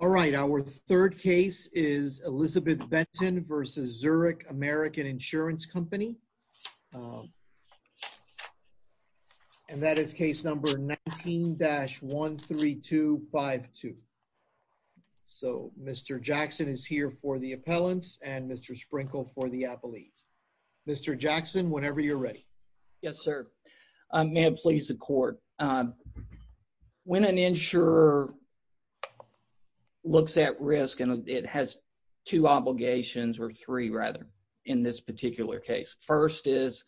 All right, our third case is Elizabeth Benton versus Zurich American Insurance Company. And that is case number 19-13252. So Mr. Jackson is here for the appellants and Mr. Sprinkle for the appellees. Mr. Jackson, whenever you're ready. Yes, sir. May it please the court. When an insurer looks at risk, and it has two obligations or three rather in this particular case. First is,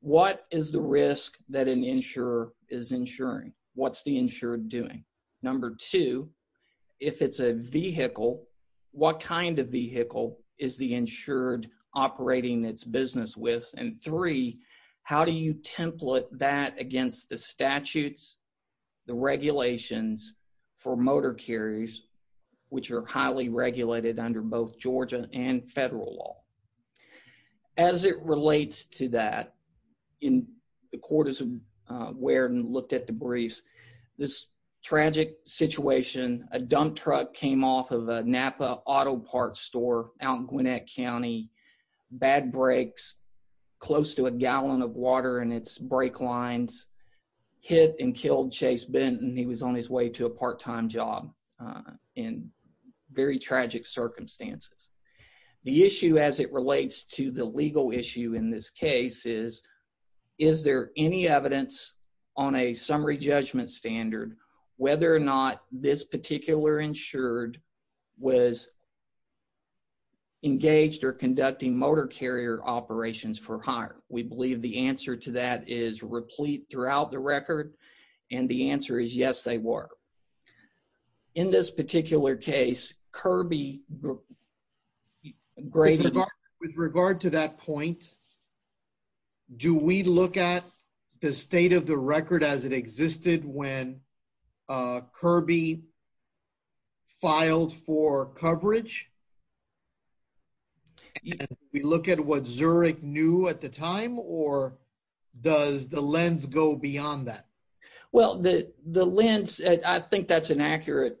what is the risk that an insurer is insuring? What's the insured doing? Number two, if it's a vehicle, what kind of vehicle is the insured operating its business with? And three, how do you template that against the statutes, the regulations for motor carriers, which are highly regulated under both Georgia and federal law? As it relates to that, in the court is aware and looked at the briefs, this tragic situation, a dump truck came off of a Napa auto parts store out in Gwinnett County, bad brakes, close to a gallon of water in its brake lines, hit and killed Chase Benton. He was on his way to a part-time job in very tragic circumstances. The issue as it relates to the legal issue in this case is, is there any evidence on a summary judgment standard, whether or not this particular insured was engaged or conducting motor carrier operations for hire? We believe the answer to that is replete throughout the record. And the answer is, yes, they were. In this particular case, Kirby... With regard to that point, do we look at the state of the record as it existed when Kirby filed for coverage? We look at what Zurich knew at the time or does the lens go beyond that? Well, the lens, I think that's an accurate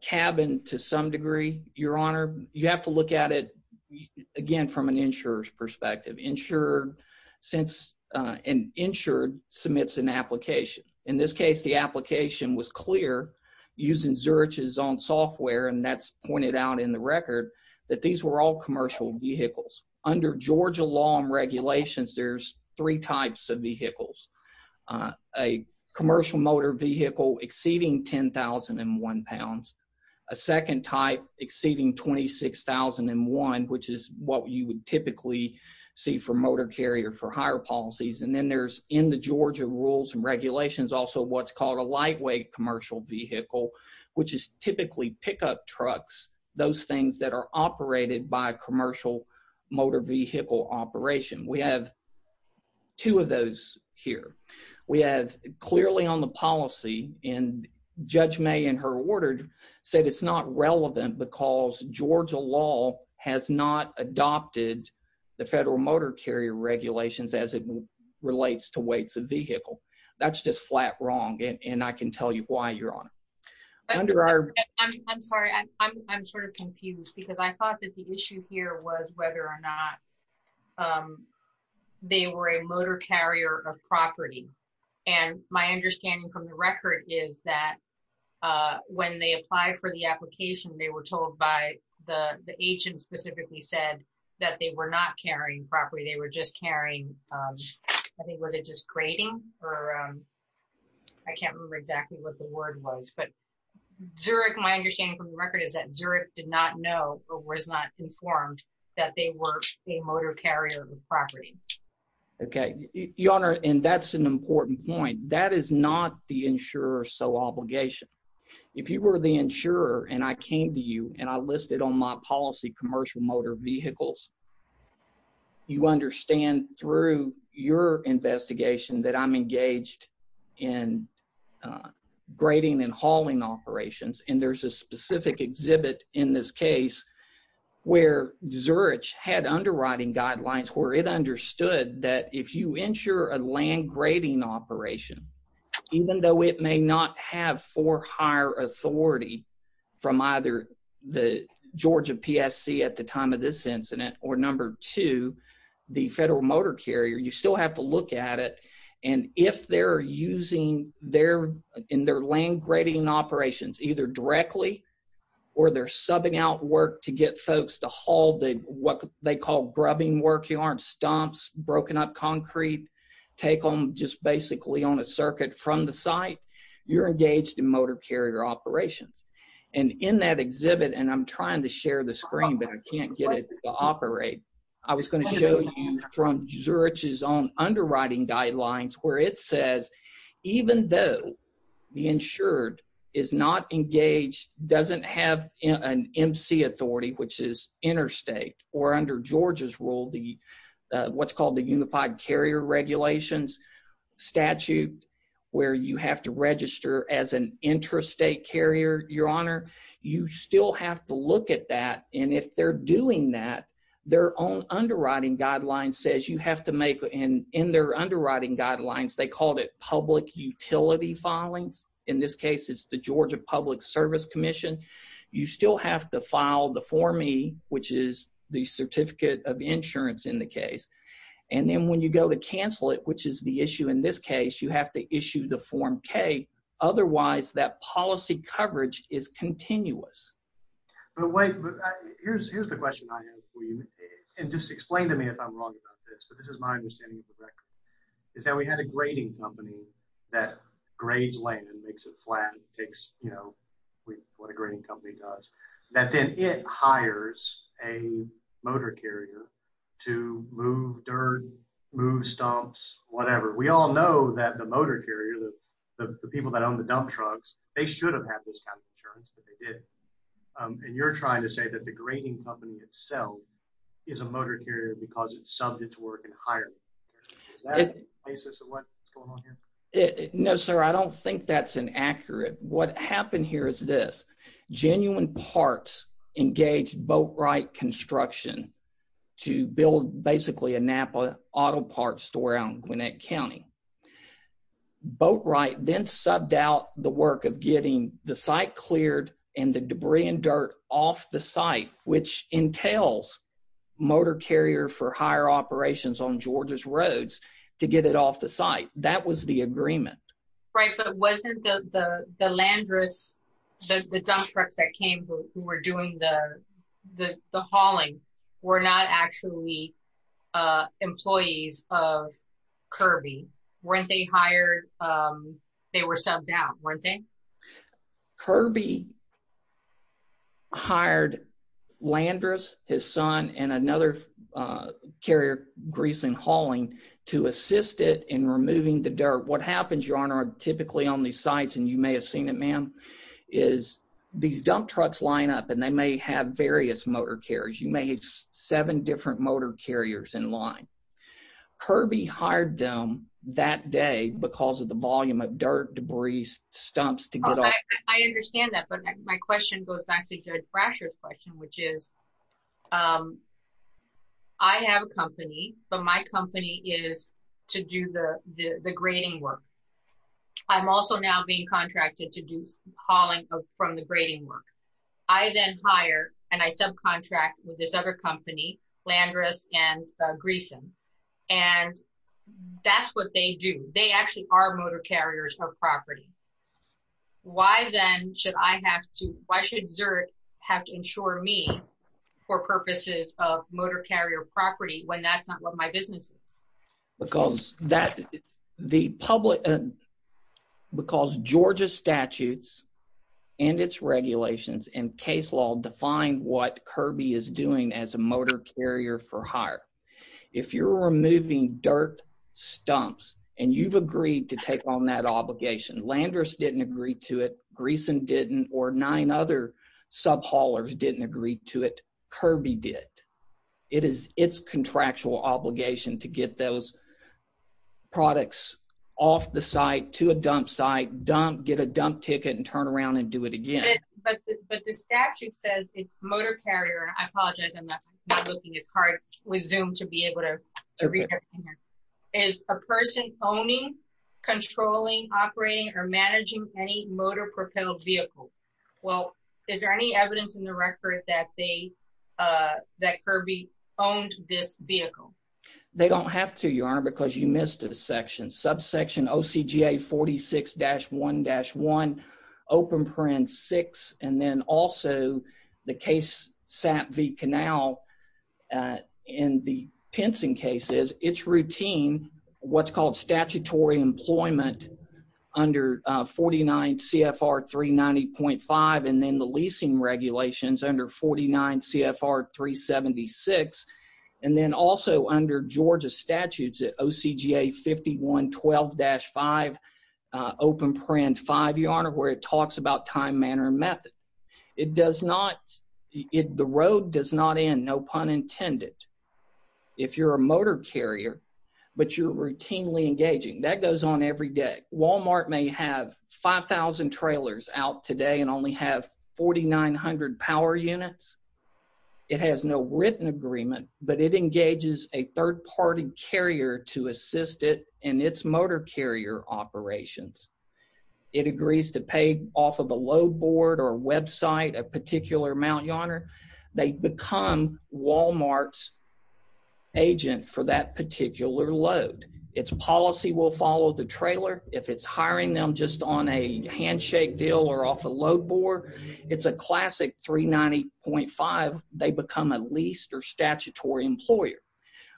cabin to some degree, your honor. You have to look at it again from an insurer's perspective. Insured since an insured submits an application in this case, the application was clear using Zurich's own software. And that's pointed out in the record that these were all commercial vehicles. Under Georgia law and regulations, there's three types of vehicles. A commercial motor vehicle exceeding 10,001 pounds, a second type exceeding 26,001, which is what you would typically see for motor carrier for hire policies. And then there's in the Georgia rules and regulations also what's called a lightweight commercial vehicle, which is typically pickup trucks, those things that are operated by commercial motor vehicle operation. We have two of those here. We have clearly on the policy and Judge May in her order said it's not relevant because Georgia law has not adopted the federal motor carrier regulations as it relates to weights of vehicle. That's just flat wrong. And I can tell you why your honor. I'm sorry, I'm sort of confused because I thought that the issue here was whether or not they were a motor carrier of property. And my understanding from the record is that when they apply for the application, they were told by the agent specifically said that they were not carrying property. They were just carrying, I think, was it just grading or I can't remember exactly what the word was, but Zurich, my understanding from the record is that Zurich did not know or was not informed that they were a motor carrier of property. Okay, your honor and that's an important point. That is not the insurer's sole obligation. If you were the insurer and I came to you and I listed on my policy commercial motor vehicles, you understand through your investigation that I'm engaged in grading and hauling operations. And there's a specific exhibit in this case where Zurich had underwriting guidelines where it understood that if you insure a land grading operation, even though it may not have for hire authority from either the Georgia PSC at the time of this incident, or number two, the federal motor carrier, you still have to look at it. And if they're using in their land grading operations, either directly or they're subbing out work to get folks to haul what they call grubbing work yarn, stumps, broken up concrete, take them just basically on a circuit from the site, you're engaged in motor carrier operations. And in that exhibit, and I'm trying to share the screen, but I can't get it to operate. I was gonna show you from Zurich's own underwriting guidelines where it says, even though the insured is not engaged, doesn't have an MC authority, which is interstate or under Georgia's rule, the what's called the unified carrier regulations statute, where you have to register as an interstate carrier, your honor, you still have to look at that. And if they're doing that, their own underwriting guidelines says you have to make, and in their underwriting guidelines, they called it public utility filings. In this case, it's the Georgia Public Service Commission. You still have to file the form E, which is the certificate of insurance in the case. And then when you go to cancel it, which is the issue in this case, you have to issue the form K. Otherwise that policy coverage is continuous. But wait, here's the question I have for you. And just explain to me if I'm wrong about this, but this is my understanding of the record, is that we had a grading company that grades land and makes it flat, takes what a grading company does, that then it hires a motor carrier to move dirt, move stumps, whatever. We all know that the motor carrier, the people that own the dump trucks, they should have had this kind of insurance, but they didn't. And you're trying to say that the grading company itself is a motor carrier because it's subject to work and hiring. Is that the basis of what's going on here? No, sir, I don't think that's an accurate. What happened here is this. Genuine parts engaged Boatwright Construction to build basically a Napa auto parts store out in Gwinnett County. Boatwright then subbed out the work of getting the site cleared and the debris and dirt off the site, which entails motor carrier for higher operations on Georgia's roads to get it off the site. That was the agreement. Right, but wasn't the Landrus, the dump trucks that came who were doing the hauling were not actually employees of Kirby? Weren't they hired? They were subbed out, weren't they? Kirby hired Landrus, his son, and another carrier, Greeson Hauling, to assist it in removing the dirt. What happens, Your Honor, typically on these sites, and you may have seen it, ma'am, is these dump trucks line up and they may have various motor carriers. You may have seven different motor carriers in line. Kirby hired them that day because of the volume of dirt, debris, stumps to get off. I understand that, but my question goes back to Judge Brasher's question, which is I have a company, but my company is to do the grading work. I'm also now being contracted to do hauling from the grading work. I then hire and I subcontract with this other company, Landrus and Greeson, and that's what they do. They actually are motor carriers of property. Why then should I have to, why should Zert have to insure me for purposes of motor carrier property when that's not what my business is? Because that, the public, because Georgia statutes and its regulations and case law define what Kirby is doing as a motor carrier for hire. If you're removing dirt, stumps, and you've agreed to take on that obligation, Landrus didn't agree to it, Greeson didn't, or nine other sub-haulers didn't agree to it, Kirby did. It is its contractual obligation to get those products off the site to a dump site, dump, get a dump ticket and turn around and do it again. But the statute says it's motor carrier, I apologize, I'm not looking, it's hard with Zoom to be able to read everything here, is a person owning, controlling, operating, or managing any motor propelled vehicle? Well, is there any evidence in the record that they, that Kirby owned this vehicle? They don't have to, Your Honor, because you missed a section. Subsection OCGA 46-1-1, open parens six, and then also the case, Sap V. Canal, and the Pinson case is, it's routine, what's called statutory employment under 49 CFR 390.5, and then the leasing regulations under 49 CFR 376, and then also under Georgia statutes at OCGA 51-12-5, open parens five, Your Honor, where it talks about time, manner, and method. It does not, the road does not end, no pun intended, if you're a motor carrier, but you're routinely engaging. That goes on every day. Walmart may have 5,000 trailers out today and only have 4,900 power units. It has no written agreement, but it engages a third party carrier to assist it in its motor carrier operations. It agrees to pay off of a load board or website, a particular amount, Your Honor. They become Walmart's agent for that particular load. Its policy will follow the trailer. If it's hiring them just on a handshake deal or off a load board, it's a classic 390.5. They become a leased or statutory employer.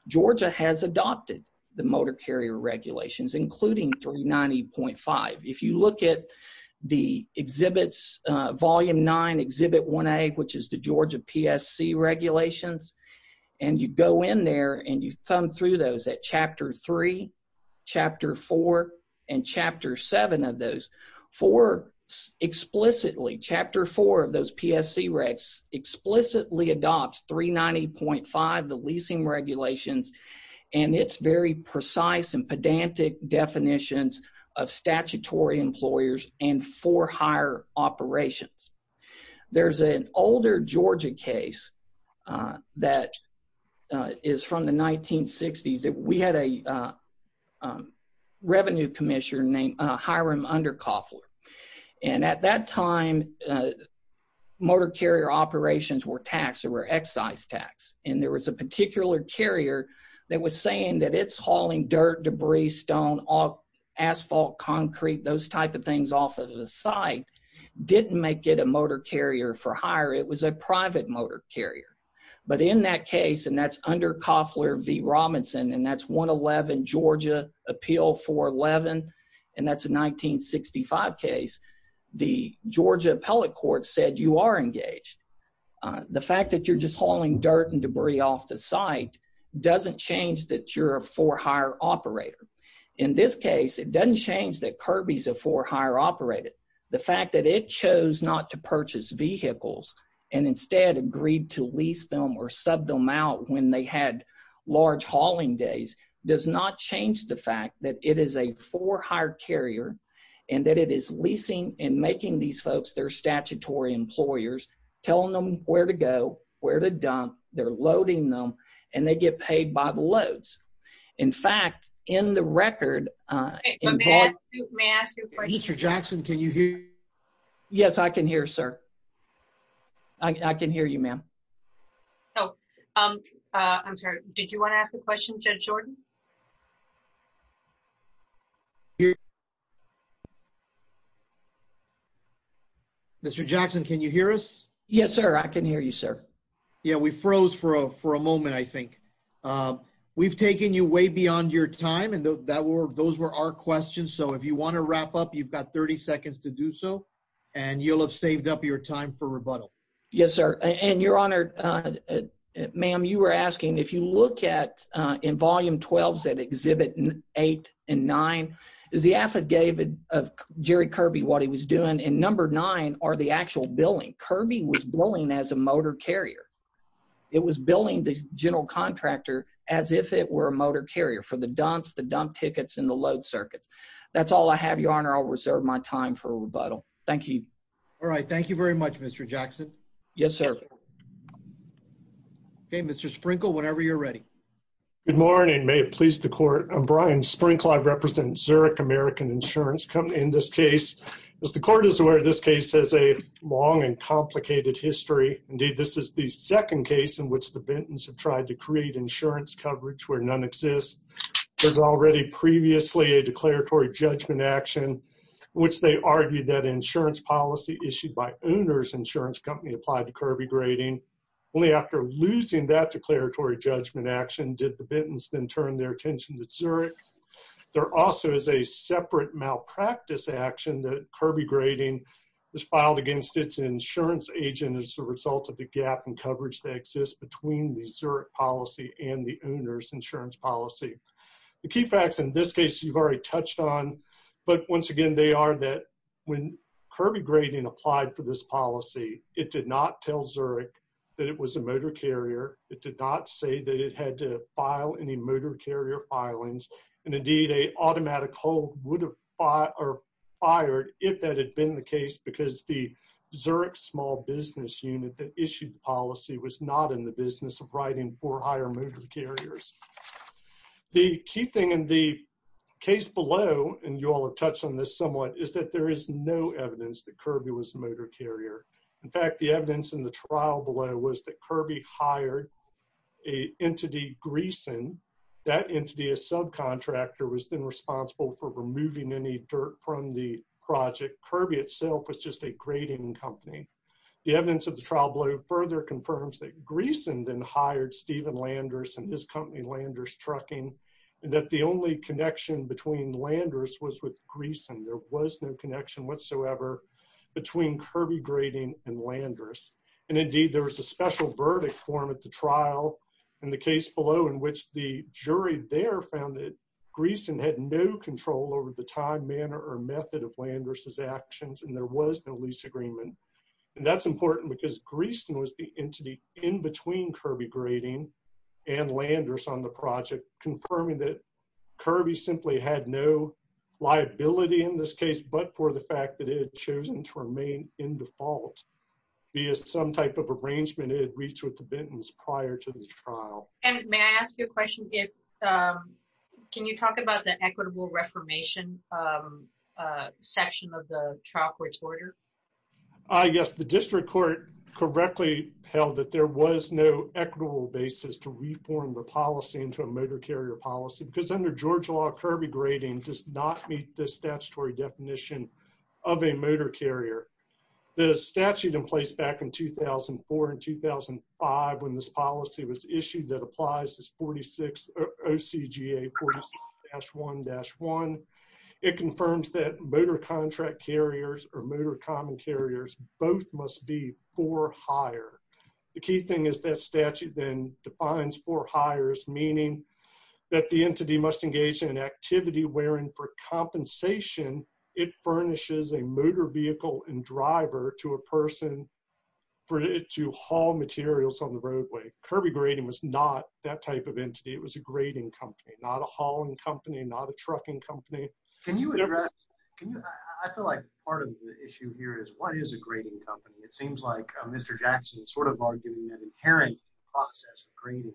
Georgia has adopted the motor carrier regulations, including 390.5. If you look at the exhibits, Volume 9, Exhibit 1A, which is the Georgia PSC regulations, and you go in there and you thumb through those at Chapter 3, Chapter 4, and Chapter 7 of those, four explicitly, Chapter 4 of those PSC regs explicitly adopts 390.5, the leasing regulations, and it's very precise and pedantic definitions of statutory employers and for hire operations. There's an older Georgia case that is from the 1960s that we had a revenue commissioner named Hiram Undercoffler. And at that time, motor carrier operations were taxed, or were excise tax. And there was a particular carrier that was saying that it's hauling dirt, debris, stone, asphalt, concrete, those type of things off of the site, didn't make it a motor carrier for hire. It was a private motor carrier. But in that case, and that's Undercoffler v. Robinson, and that's 111 Georgia Appeal 411, and that's a 1965 case, the Georgia appellate court said, you are engaged. The fact that you're just hauling dirt and debris off the site doesn't change that you're a for hire operator. In this case, it doesn't change that Kirby's a for hire operator. The fact that it chose not to purchase vehicles and instead agreed to lease them or sub them out when they had large hauling days does not change the fact that it is a for hire carrier, and that it is leasing and making these folks, they're statutory employers, telling them where to go, where to dump, they're loading them, and they get paid by the loads. In fact, in the record- May I ask you a question? Mr. Jackson, can you hear me? Yes, I can hear, sir. I can hear you, ma'am. Oh, I'm sorry. Did you wanna ask a question, Judge Jordan? Mr. Jackson, can you hear us? Yes, sir, I can hear you, sir. Yeah, we froze for a moment, I think. We've taken you way beyond your time, and those were our questions. So if you wanna wrap up, you've got 30 seconds to do so, and you'll have saved up your time for rebuttal. Yes, sir. And your honor, ma'am, you were asking, if you look at in volume 12s at exhibit eight and nine, is the affidavit of Jerry Kirby, what he was doing, and number nine are the actual billing. Kirby was billing as a motor carrier. It was billing the general contractor as if it were a motor carrier for the dumps, the dump tickets, and the load circuits. That's all I have, your honor. I'll reserve my time for rebuttal. Thank you. All right, thank you very much, Mr. Jackson. Yes, sir. Okay, Mr. Sprinkle, whenever you're ready. Good morning. May it please the court. I'm Brian Sprinkle. I represent Zurich American Insurance. In this case, as the court is aware, this case has a long and complicated history. Indeed, this is the second case in which the Bentons have tried to create insurance coverage where none exists. There's already previously a declaratory judgment action, which they argued that insurance policy issued by owner's insurance company applied to Kirby grading. Only after losing that declaratory judgment action did the Bentons then turn their attention to Zurich. There also is a separate malpractice action that Kirby grading was filed against its insurance agent as a result of the gap in coverage that exists between the Zurich policy and the owner's insurance policy. The key facts in this case you've already touched on, but once again, they are that when Kirby grading applied for this policy, it did not tell Zurich that it was a motor carrier. It did not say that it had to file any motor carrier filings. And indeed, a automatic hold would have fired if that had been the case because the Zurich small business unit that issued the policy was not in the business of writing for higher motor carriers. The key thing in the case below, and you all have touched on this somewhat, is that there is no evidence that Kirby was a motor carrier. In fact, the evidence in the trial below was that Kirby hired a entity, Greeson. That entity, a subcontractor, was then responsible for removing any dirt from the project. Kirby itself was just a grading company. The evidence of the trial below further confirms that Greeson then hired Stephen Landers and his company, Landers Trucking, and that the only connection between Landers was with Greeson. There was no connection whatsoever between Kirby grading and Landers. And indeed, there was a special verdict form at the trial in the case below in which the jury there found that Greeson had no control over the time, manner, or method of Landers' actions, and there was no lease agreement. And that's important because Greeson was the entity in between Kirby grading and Landers on the project, confirming that Kirby simply had no liability in this case, but for the fact that it had chosen to remain in default, via some type of arrangement, it had reached with the Bentons prior to the trial. And may I ask you a question? Can you talk about the equitable reformation section of the trial court's order? Yes, the district court correctly held that there was no equitable basis to reform the policy into a motor carrier policy, because under Georgia law, Kirby grading does not meet the statutory definition of a motor carrier. The statute in place back in 2004 and 2005, when this policy was issued that applies is 46 OCGA 46-1-1. It confirms that motor contract carriers or motor common carriers, both must be for hire. The key thing is that statute then defines for hires, meaning that the entity must engage in an activity wherein for compensation, it furnishes a motor vehicle and driver to a person to haul materials on the roadway. Kirby grading was not that type of entity. It was a grading company, not a hauling company, not a trucking company. Can you address, I feel like part of the issue here is what is a grading company? It seems like Mr. Jackson sort of arguing that inherent process of grading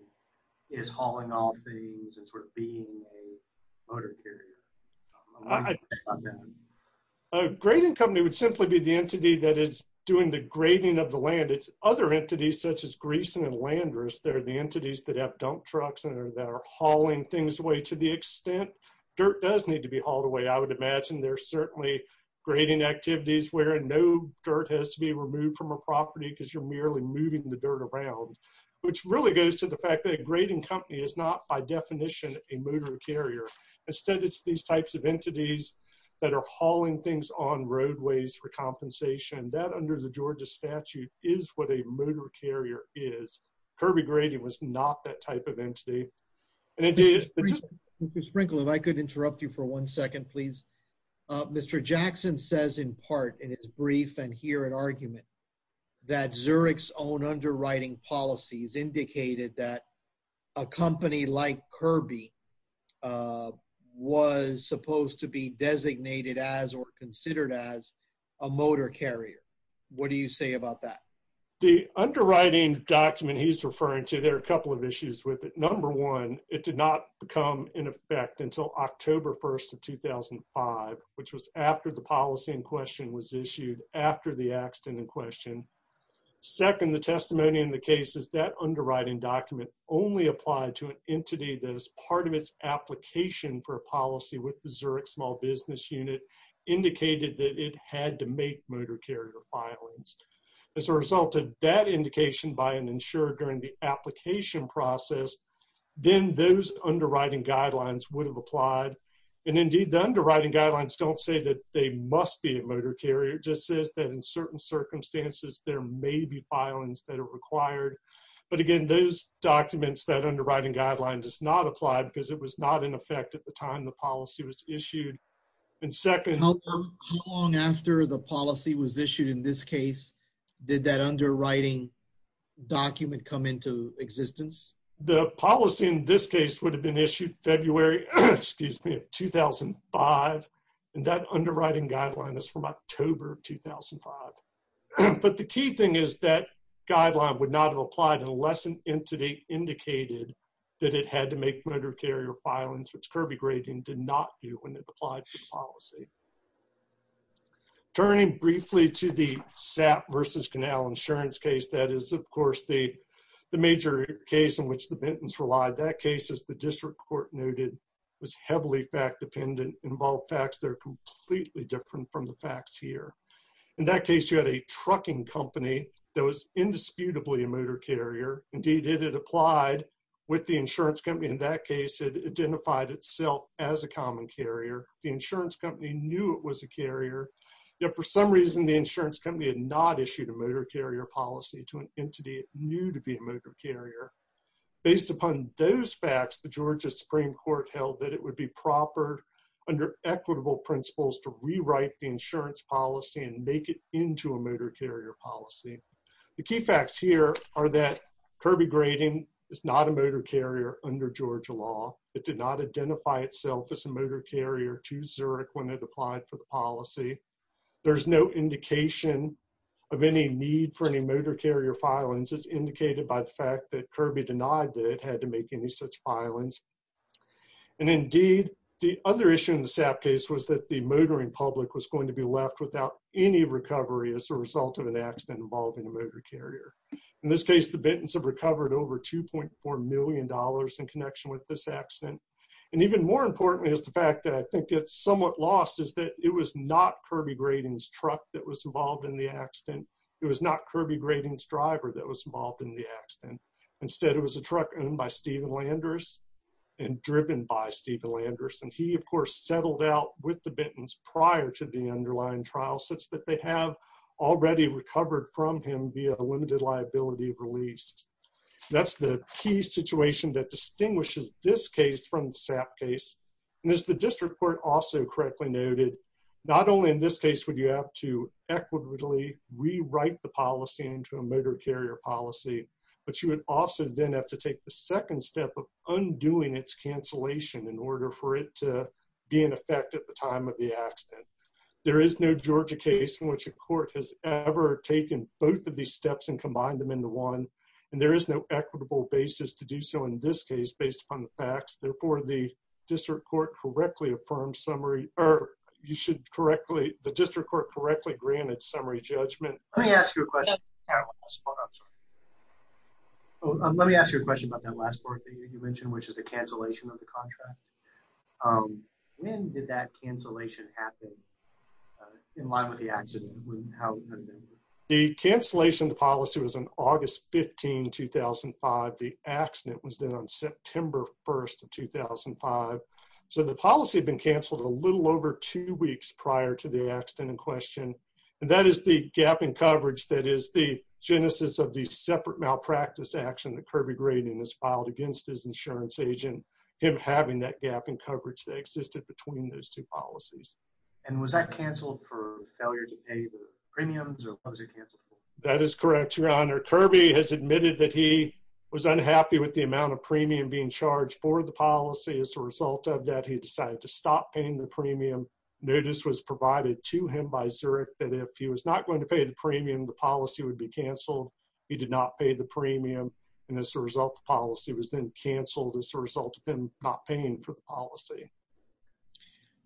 is hauling all things and sort of being a motor carrier. A grading company would simply be the entity that is doing the grading of the land. It's other entities such as Greeson and Landrus that are the entities that have dump trucks and that are hauling things away to the extent. Dirt does need to be hauled away. I would imagine there's certainly grading activities where no dirt has to be removed from a property because you're merely moving the dirt around, which really goes to the fact that a grading company is not by definition a motor carrier. Instead, it's these types of entities that are hauling things on roadways for compensation. That under the Georgia statute is what a motor carrier is. Kirby grading was not that type of entity. And it is- Mr. Sprinkle, if I could interrupt you for one second, please. Mr. Jackson says in part in his brief and here in argument that Zurich's own underwriting policies indicated that a company like Kirby was supposed to be designated as or considered as a motor carrier. What do you say about that? The underwriting document he's referring to, there are a couple of issues with it. Number one, it did not become in effect until October 1st of 2005, which was after the policy in question was issued after the accident in question. Second, the testimony in the case is that underwriting document only applied to an entity that is part of its application for a policy with the Zurich Small Business Unit indicated that it had to make motor carrier filings. As a result of that indication by an insurer during the application process, then those underwriting guidelines would have applied. And indeed the underwriting guidelines don't say that they must be a motor carrier. It just says that in certain circumstances, there may be filings that are required. But again, those documents that underwriting guidelines does not apply because it was not in effect at the time the policy was issued. And second- How long after the policy was issued in this case, did that underwriting document come into existence? The policy in this case would have been issued February, excuse me, 2005. And that underwriting guideline is from October 2005. But the key thing is that guideline would not have applied unless an entity indicated that it had to make motor carrier filings, which Kirby grading did not do when it applied to policy. Turning briefly to the SAP versus Canal Insurance case, that is of course the major case in which the Bentons relied. That case, as the district court noted, was heavily fact-dependent, involved facts that are completely different from the facts here. In that case, you had a trucking company that was indisputably a motor carrier. Indeed, it had applied with the insurance company. In that case, it identified itself as a common carrier. The insurance company knew it was a carrier. Yet for some reason, the insurance company had not issued a motor carrier policy to an entity it knew to be a motor carrier. Based upon those facts, the Georgia Supreme Court held that it would be proper under equitable principles to rewrite the insurance policy and make it into a motor carrier policy. The key facts here are that Kirby grading is not a motor carrier under Georgia law. It did not identify itself as a motor carrier to Zurich when it applied for the policy. There's no indication of any need for any motor carrier filings. It's indicated by the fact that Kirby denied that it had to make any such filings. And indeed, the other issue in the SAP case was that the motoring public was going to be left without any recovery as a result of an accident involving a motor carrier. In this case, the Bentons have recovered over $2.4 million in connection with this accident. And even more importantly is the fact that I think it's somewhat lost is that it was not Kirby grading's truck that was involved in the accident. It was not Kirby grading's driver that was involved in the accident. Instead, it was a truck owned by Stephen Landers and driven by Stephen Landers. And he, of course, settled out with the Bentons prior to the underlying trial since that they have already recovered from him via a limited liability release. That's the key situation that distinguishes this case from the SAP case. And as the district court also correctly noted, not only in this case would you have to equitably rewrite the policy into a motor carrier policy, but you would also then have to take the second step of undoing its cancellation in order for it to be in effect at the time of the accident. There is no Georgia case in which a court has ever taken both of these steps and combined them into one. And there is no equitable basis to do so in this case based upon the facts. Therefore, the district court correctly affirmed summary or you should correctly, the district court correctly granted summary judgment. Let me ask you a question. Let me ask you a question about that last part that you mentioned, which is the cancellation of the contract. When did that cancellation happen? In line with the accident? The cancellation of the policy was on August 15, 2005. The accident was then on September 1st of 2005. So the policy had been canceled a little over two weeks prior to the accident in question. And that is the gap in coverage that is the genesis of the separate malpractice action that Kirby Graydon has filed against his insurance agent, him having that gap in coverage that existed between those two policies. And was that canceled for failure to pay the premiums or was it canceled? That is correct, your honor. Kirby has admitted that he was unhappy with the amount of premium being charged for the policy. As a result of that, he decided to stop paying the premium. Notice was provided to him by Zurich that if he was not going to pay the premium, the policy would be canceled. He did not pay the premium. And as a result, the policy was then canceled as a result of him not paying for the policy.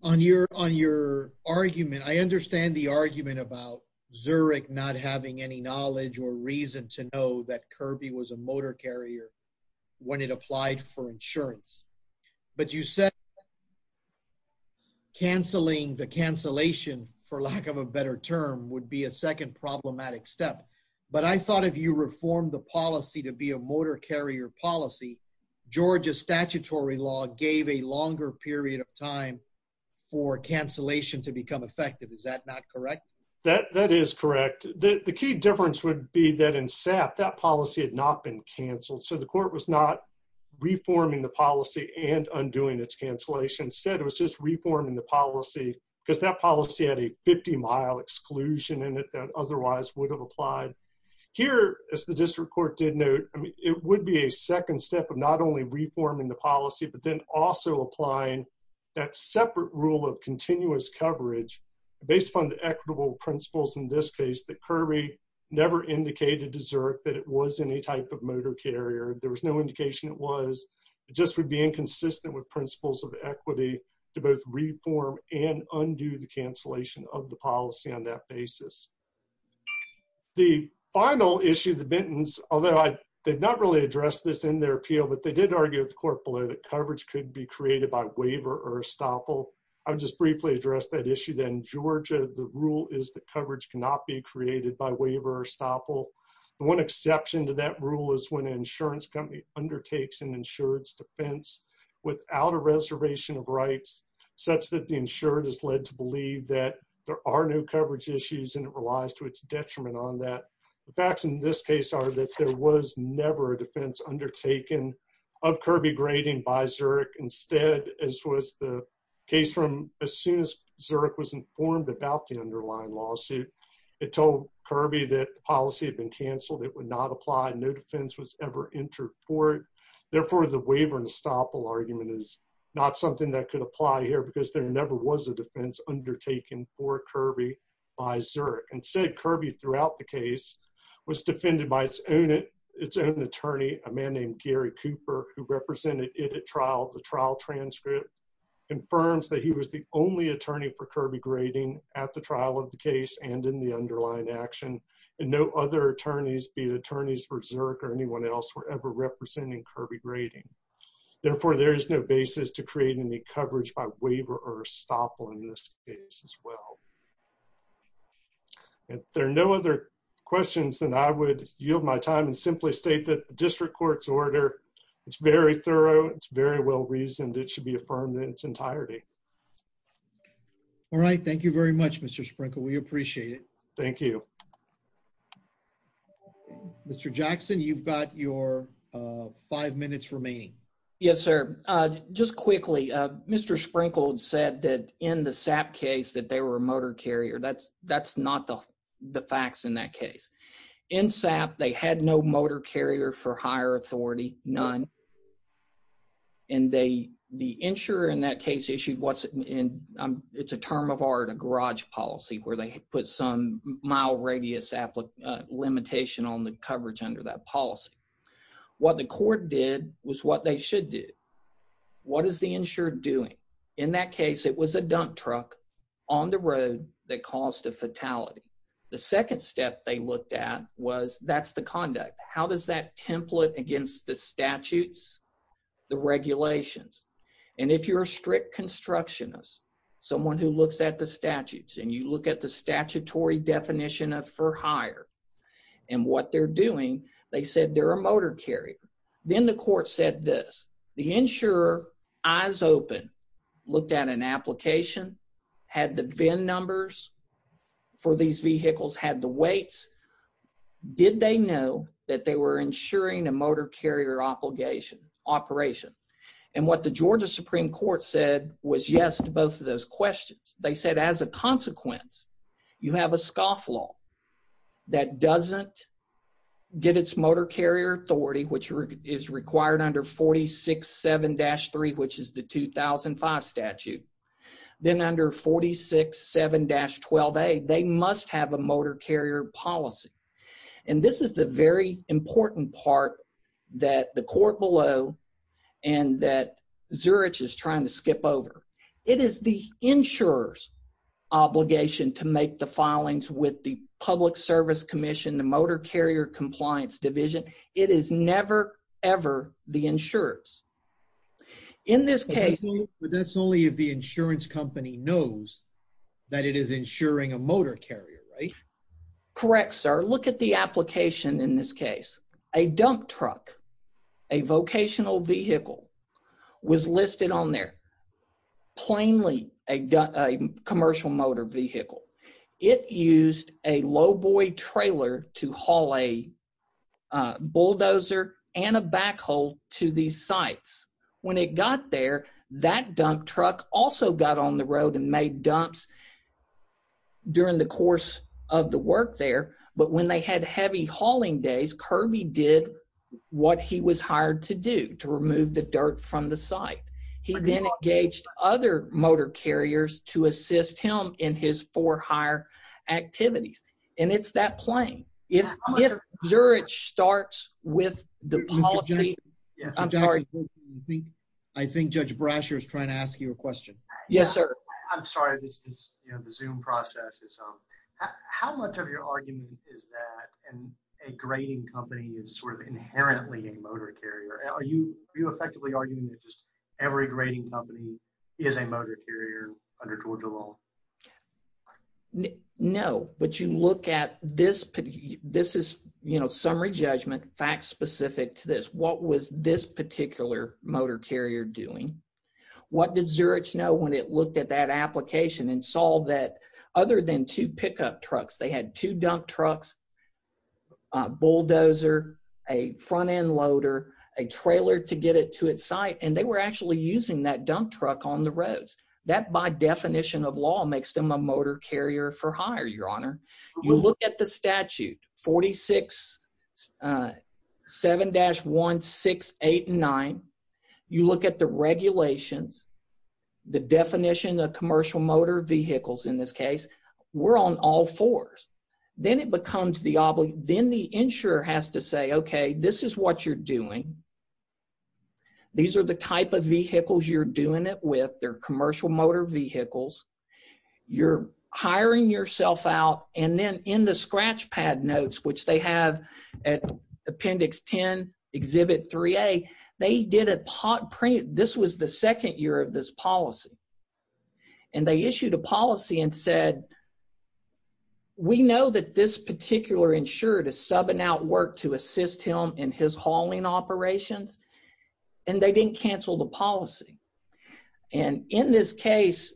On your argument, I understand the argument about Zurich not having any knowledge or reason to know that Kirby was a motor carrier when it applied for insurance. But you said canceling the cancellation for lack of a better term would be a second problematic step. But I thought if you reformed the policy to be a motor carrier policy, Georgia's statutory law gave a longer period of time for cancellation to become effective. Is that not correct? That is correct. The key difference would be that in SAP, that policy had not been canceled. So the court was not reforming the policy and undoing its cancellation. Instead, it was just reforming the policy because that policy had a 50 mile exclusion in it that otherwise would have applied. Here, as the district court did note, it would be a second step of not only reforming the policy, but then also applying that separate rule of continuous coverage based upon the equitable principles in this case that Kirby never indicated to Zurich that it was any type of motor carrier. There was no indication it was. It just would be inconsistent with principles of equity to both reform and undo the cancellation of the policy on that basis. The final issue of the Benton's, although they've not really addressed this in their appeal, but they did argue with the court below that coverage could be created by waiver or estoppel. I'll just briefly address that issue then. Georgia, the rule is that coverage cannot be created by waiver or estoppel. The one exception to that rule is when an insurance company undertakes an insurance defense without a reservation of rights, such that the insured is led to believe that there are no coverage issues and it relies to its detriment on that. The facts in this case are that there was never a defense undertaken of Kirby grading by Zurich. Instead, as was the case from as soon as Zurich was informed about the underlying lawsuit, it told Kirby that the policy had been canceled. It would not apply. No defense was ever entered for it. Therefore, the waiver and estoppel argument is not something that could apply here because there never was a defense undertaken for Kirby by Zurich. Instead, Kirby throughout the case was defended by its own attorney, a man named Gary Cooper, who represented it at trial. The trial transcript confirms that he was the only attorney for Kirby grading at the trial of the case and in the underlying action. And no other attorneys, be it attorneys for Zurich or anyone else, were ever representing Kirby grading. Therefore, there is no basis to create any coverage by waiver or estoppel in this case as well. If there are no other questions, then I would yield my time and simply state that the district court's order, it's very thorough, it's very well-reasoned. It should be affirmed in its entirety. All right, thank you very much, Mr. Sprinkled. We appreciate it. Thank you. Mr. Jackson, you've got your five minutes remaining. Yes, sir. Just quickly, Mr. Sprinkled said that in the SAP case that they were a motor carrier. That's not the facts in that case. In SAP, they had no motor carrier for higher authority, none. And the insurer in that case issued what's in, it's a term of art, a garage policy, where they put some mile radius limitation on the coverage under that policy. What the court did was what they should do. What is the insurer doing? In that case, it was a dump truck on the road that caused a fatality. The second step they looked at was, that's the conduct. How does that template against the statutes, the regulations? And if you're a strict constructionist, someone who looks at the statutes and you look at the statutory definition of for hire and what they're doing, they said they're a motor carrier. Then the court said this. The insurer, eyes open, looked at an application, had the VIN numbers for these vehicles, had the weights. Did they know that they were insuring a motor carrier operation? And what the Georgia Supreme Court said was yes to both of those questions. They said, as a consequence, you have a scoff law that doesn't get its motor carrier authority, which is required under 46-7-3, which is the 2005 statute. Then under 46-7-12a, they must have a motor carrier policy. And this is the very important part that the court below and that Zurich is trying to skip over. It is the insurer's obligation to make the filings with the Public Service Commission, the Motor Carrier Compliance Division. It is never, ever the insurer's. In this case- But that's only if the insurance company knows that it is insuring a motor carrier, right? Correct, sir. Look at the application in this case. A dump truck, a vocational vehicle, was listed on there, plainly a commercial motor vehicle. It used a lowboy trailer to haul a bulldozer and a backhoe to these sites. When it got there, that dump truck also got on the road and made dumps during the course of the work there. But when they had heavy hauling days, Kirby did what he was hired to do, to remove the dirt from the site. He then engaged other motor carriers to assist him in his for-hire activities. And it's that plain. If Zurich starts with the policy- Mr. Jackson, I think Judge Brasher is trying to ask you a question. Yes, sir. I'm sorry, this is the Zoom process. How much of your argument is that a grading company is sort of inherently a motor carrier? Are you effectively arguing that just every grading company is a motor carrier under Georgia law? No, but you look at this, this is, you know, summary judgment, facts specific to this. What was this particular motor carrier doing? What did Zurich know when it looked at that application and saw that other than two pickup trucks, they had two dump trucks, a bulldozer, a front-end loader, a trailer to get it to its site, and they were actually using that dump truck on the roads. That, by definition of law, makes them a motor carrier for hire, Your Honor. You look at the statute, 46-7-1689, you look at the regulations, the definition of commercial motor vehicles in this case, we're on all fours. Then it becomes the, then the insurer has to say, okay, this is what you're doing. These are the type of vehicles you're doing it with. They're commercial motor vehicles. You're hiring yourself out, and then in the scratch pad notes, which they have at Appendix 10, Exhibit 3A, they did a, this was the second year of this policy, and they issued a policy and said, we know that this particular insurer does sub-and-out work to assist him in his hauling operations, and they didn't cancel the policy. And in this case,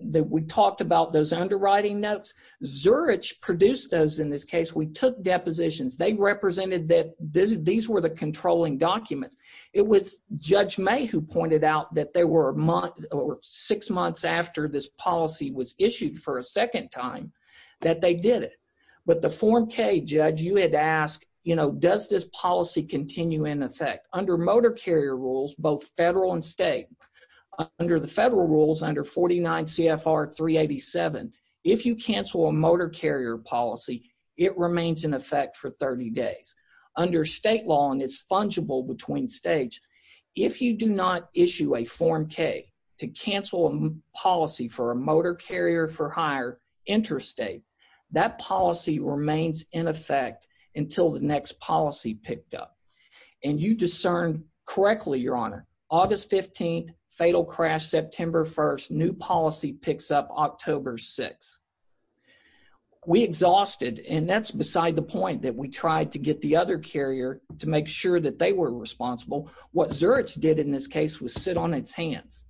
we talked about those underwriting notes. Zurich produced those in this case. We took depositions. They represented that these were the controlling documents. It was Judge May who pointed out that there were six months after this policy was issued for a second time that they did it. But the Form K, Judge, you had to ask, does this policy continue in effect? Under motor carrier rules, both federal and state, under the federal rules, under 49 CFR 387, if you cancel a motor carrier policy, it remains in effect for 30 days. Under state law, and it's fungible between states, if you do not issue a Form K to cancel a policy for a motor carrier for hire interstate, that policy remains in effect until the next policy picked up. And you discerned correctly, Your Honor, August 15th, fatal crash, September 1st, new policy picks up October 6th. We exhausted, and that's beside the point that we tried to get the other carrier to make sure that they were responsible. What Zurich did in this case was sit on its hands.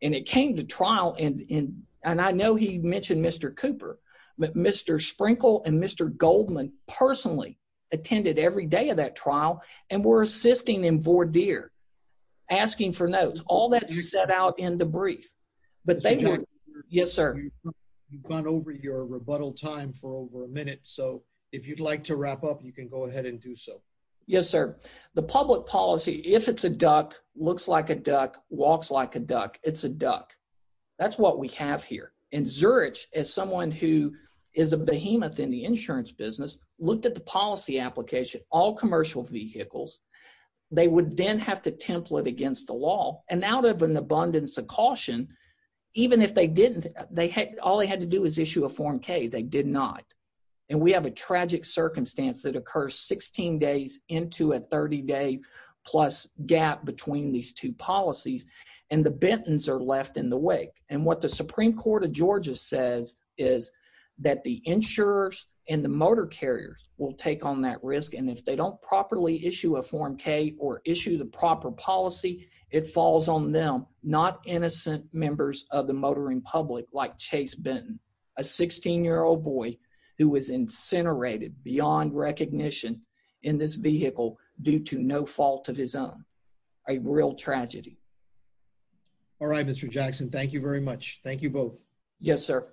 And it came to trial, and I know he mentioned Mr. Cooper, but Mr. Sprinkle and Mr. Goldman personally attended every day of that trial, and were assisting in voir dire, asking for notes. All that set out in the brief. But they were, yes, sir. You've gone over your rebuttal time for over a minute. So if you'd like to wrap up, you can go ahead and do so. Yes, sir. The public policy, if it's a duck, looks like a duck, walks like a duck, it's a duck. That's what we have here. And Zurich, as someone who is a behemoth in the insurance business, looked at the policy application, all commercial vehicles. They would then have to template against the law. And out of an abundance of caution, even if they didn't, all they had to do is issue a Form K, they did not. And we have a tragic circumstance that occurs 16 days into a 30-day-plus gap between these two policies, and the Bentons are left in the wake. And what the Supreme Court of Georgia says is that the insurers and the motor carriers will take on that risk. And if they don't properly issue a Form K or issue the proper policy, it falls on them, not innocent members of the motoring public like Chase Benton, a 16-year-old boy who was incinerated beyond recognition in this vehicle due to no fault of his own, a real tragedy. All right, Mr. Jackson, thank you very much. Thank you both. Yes, sir.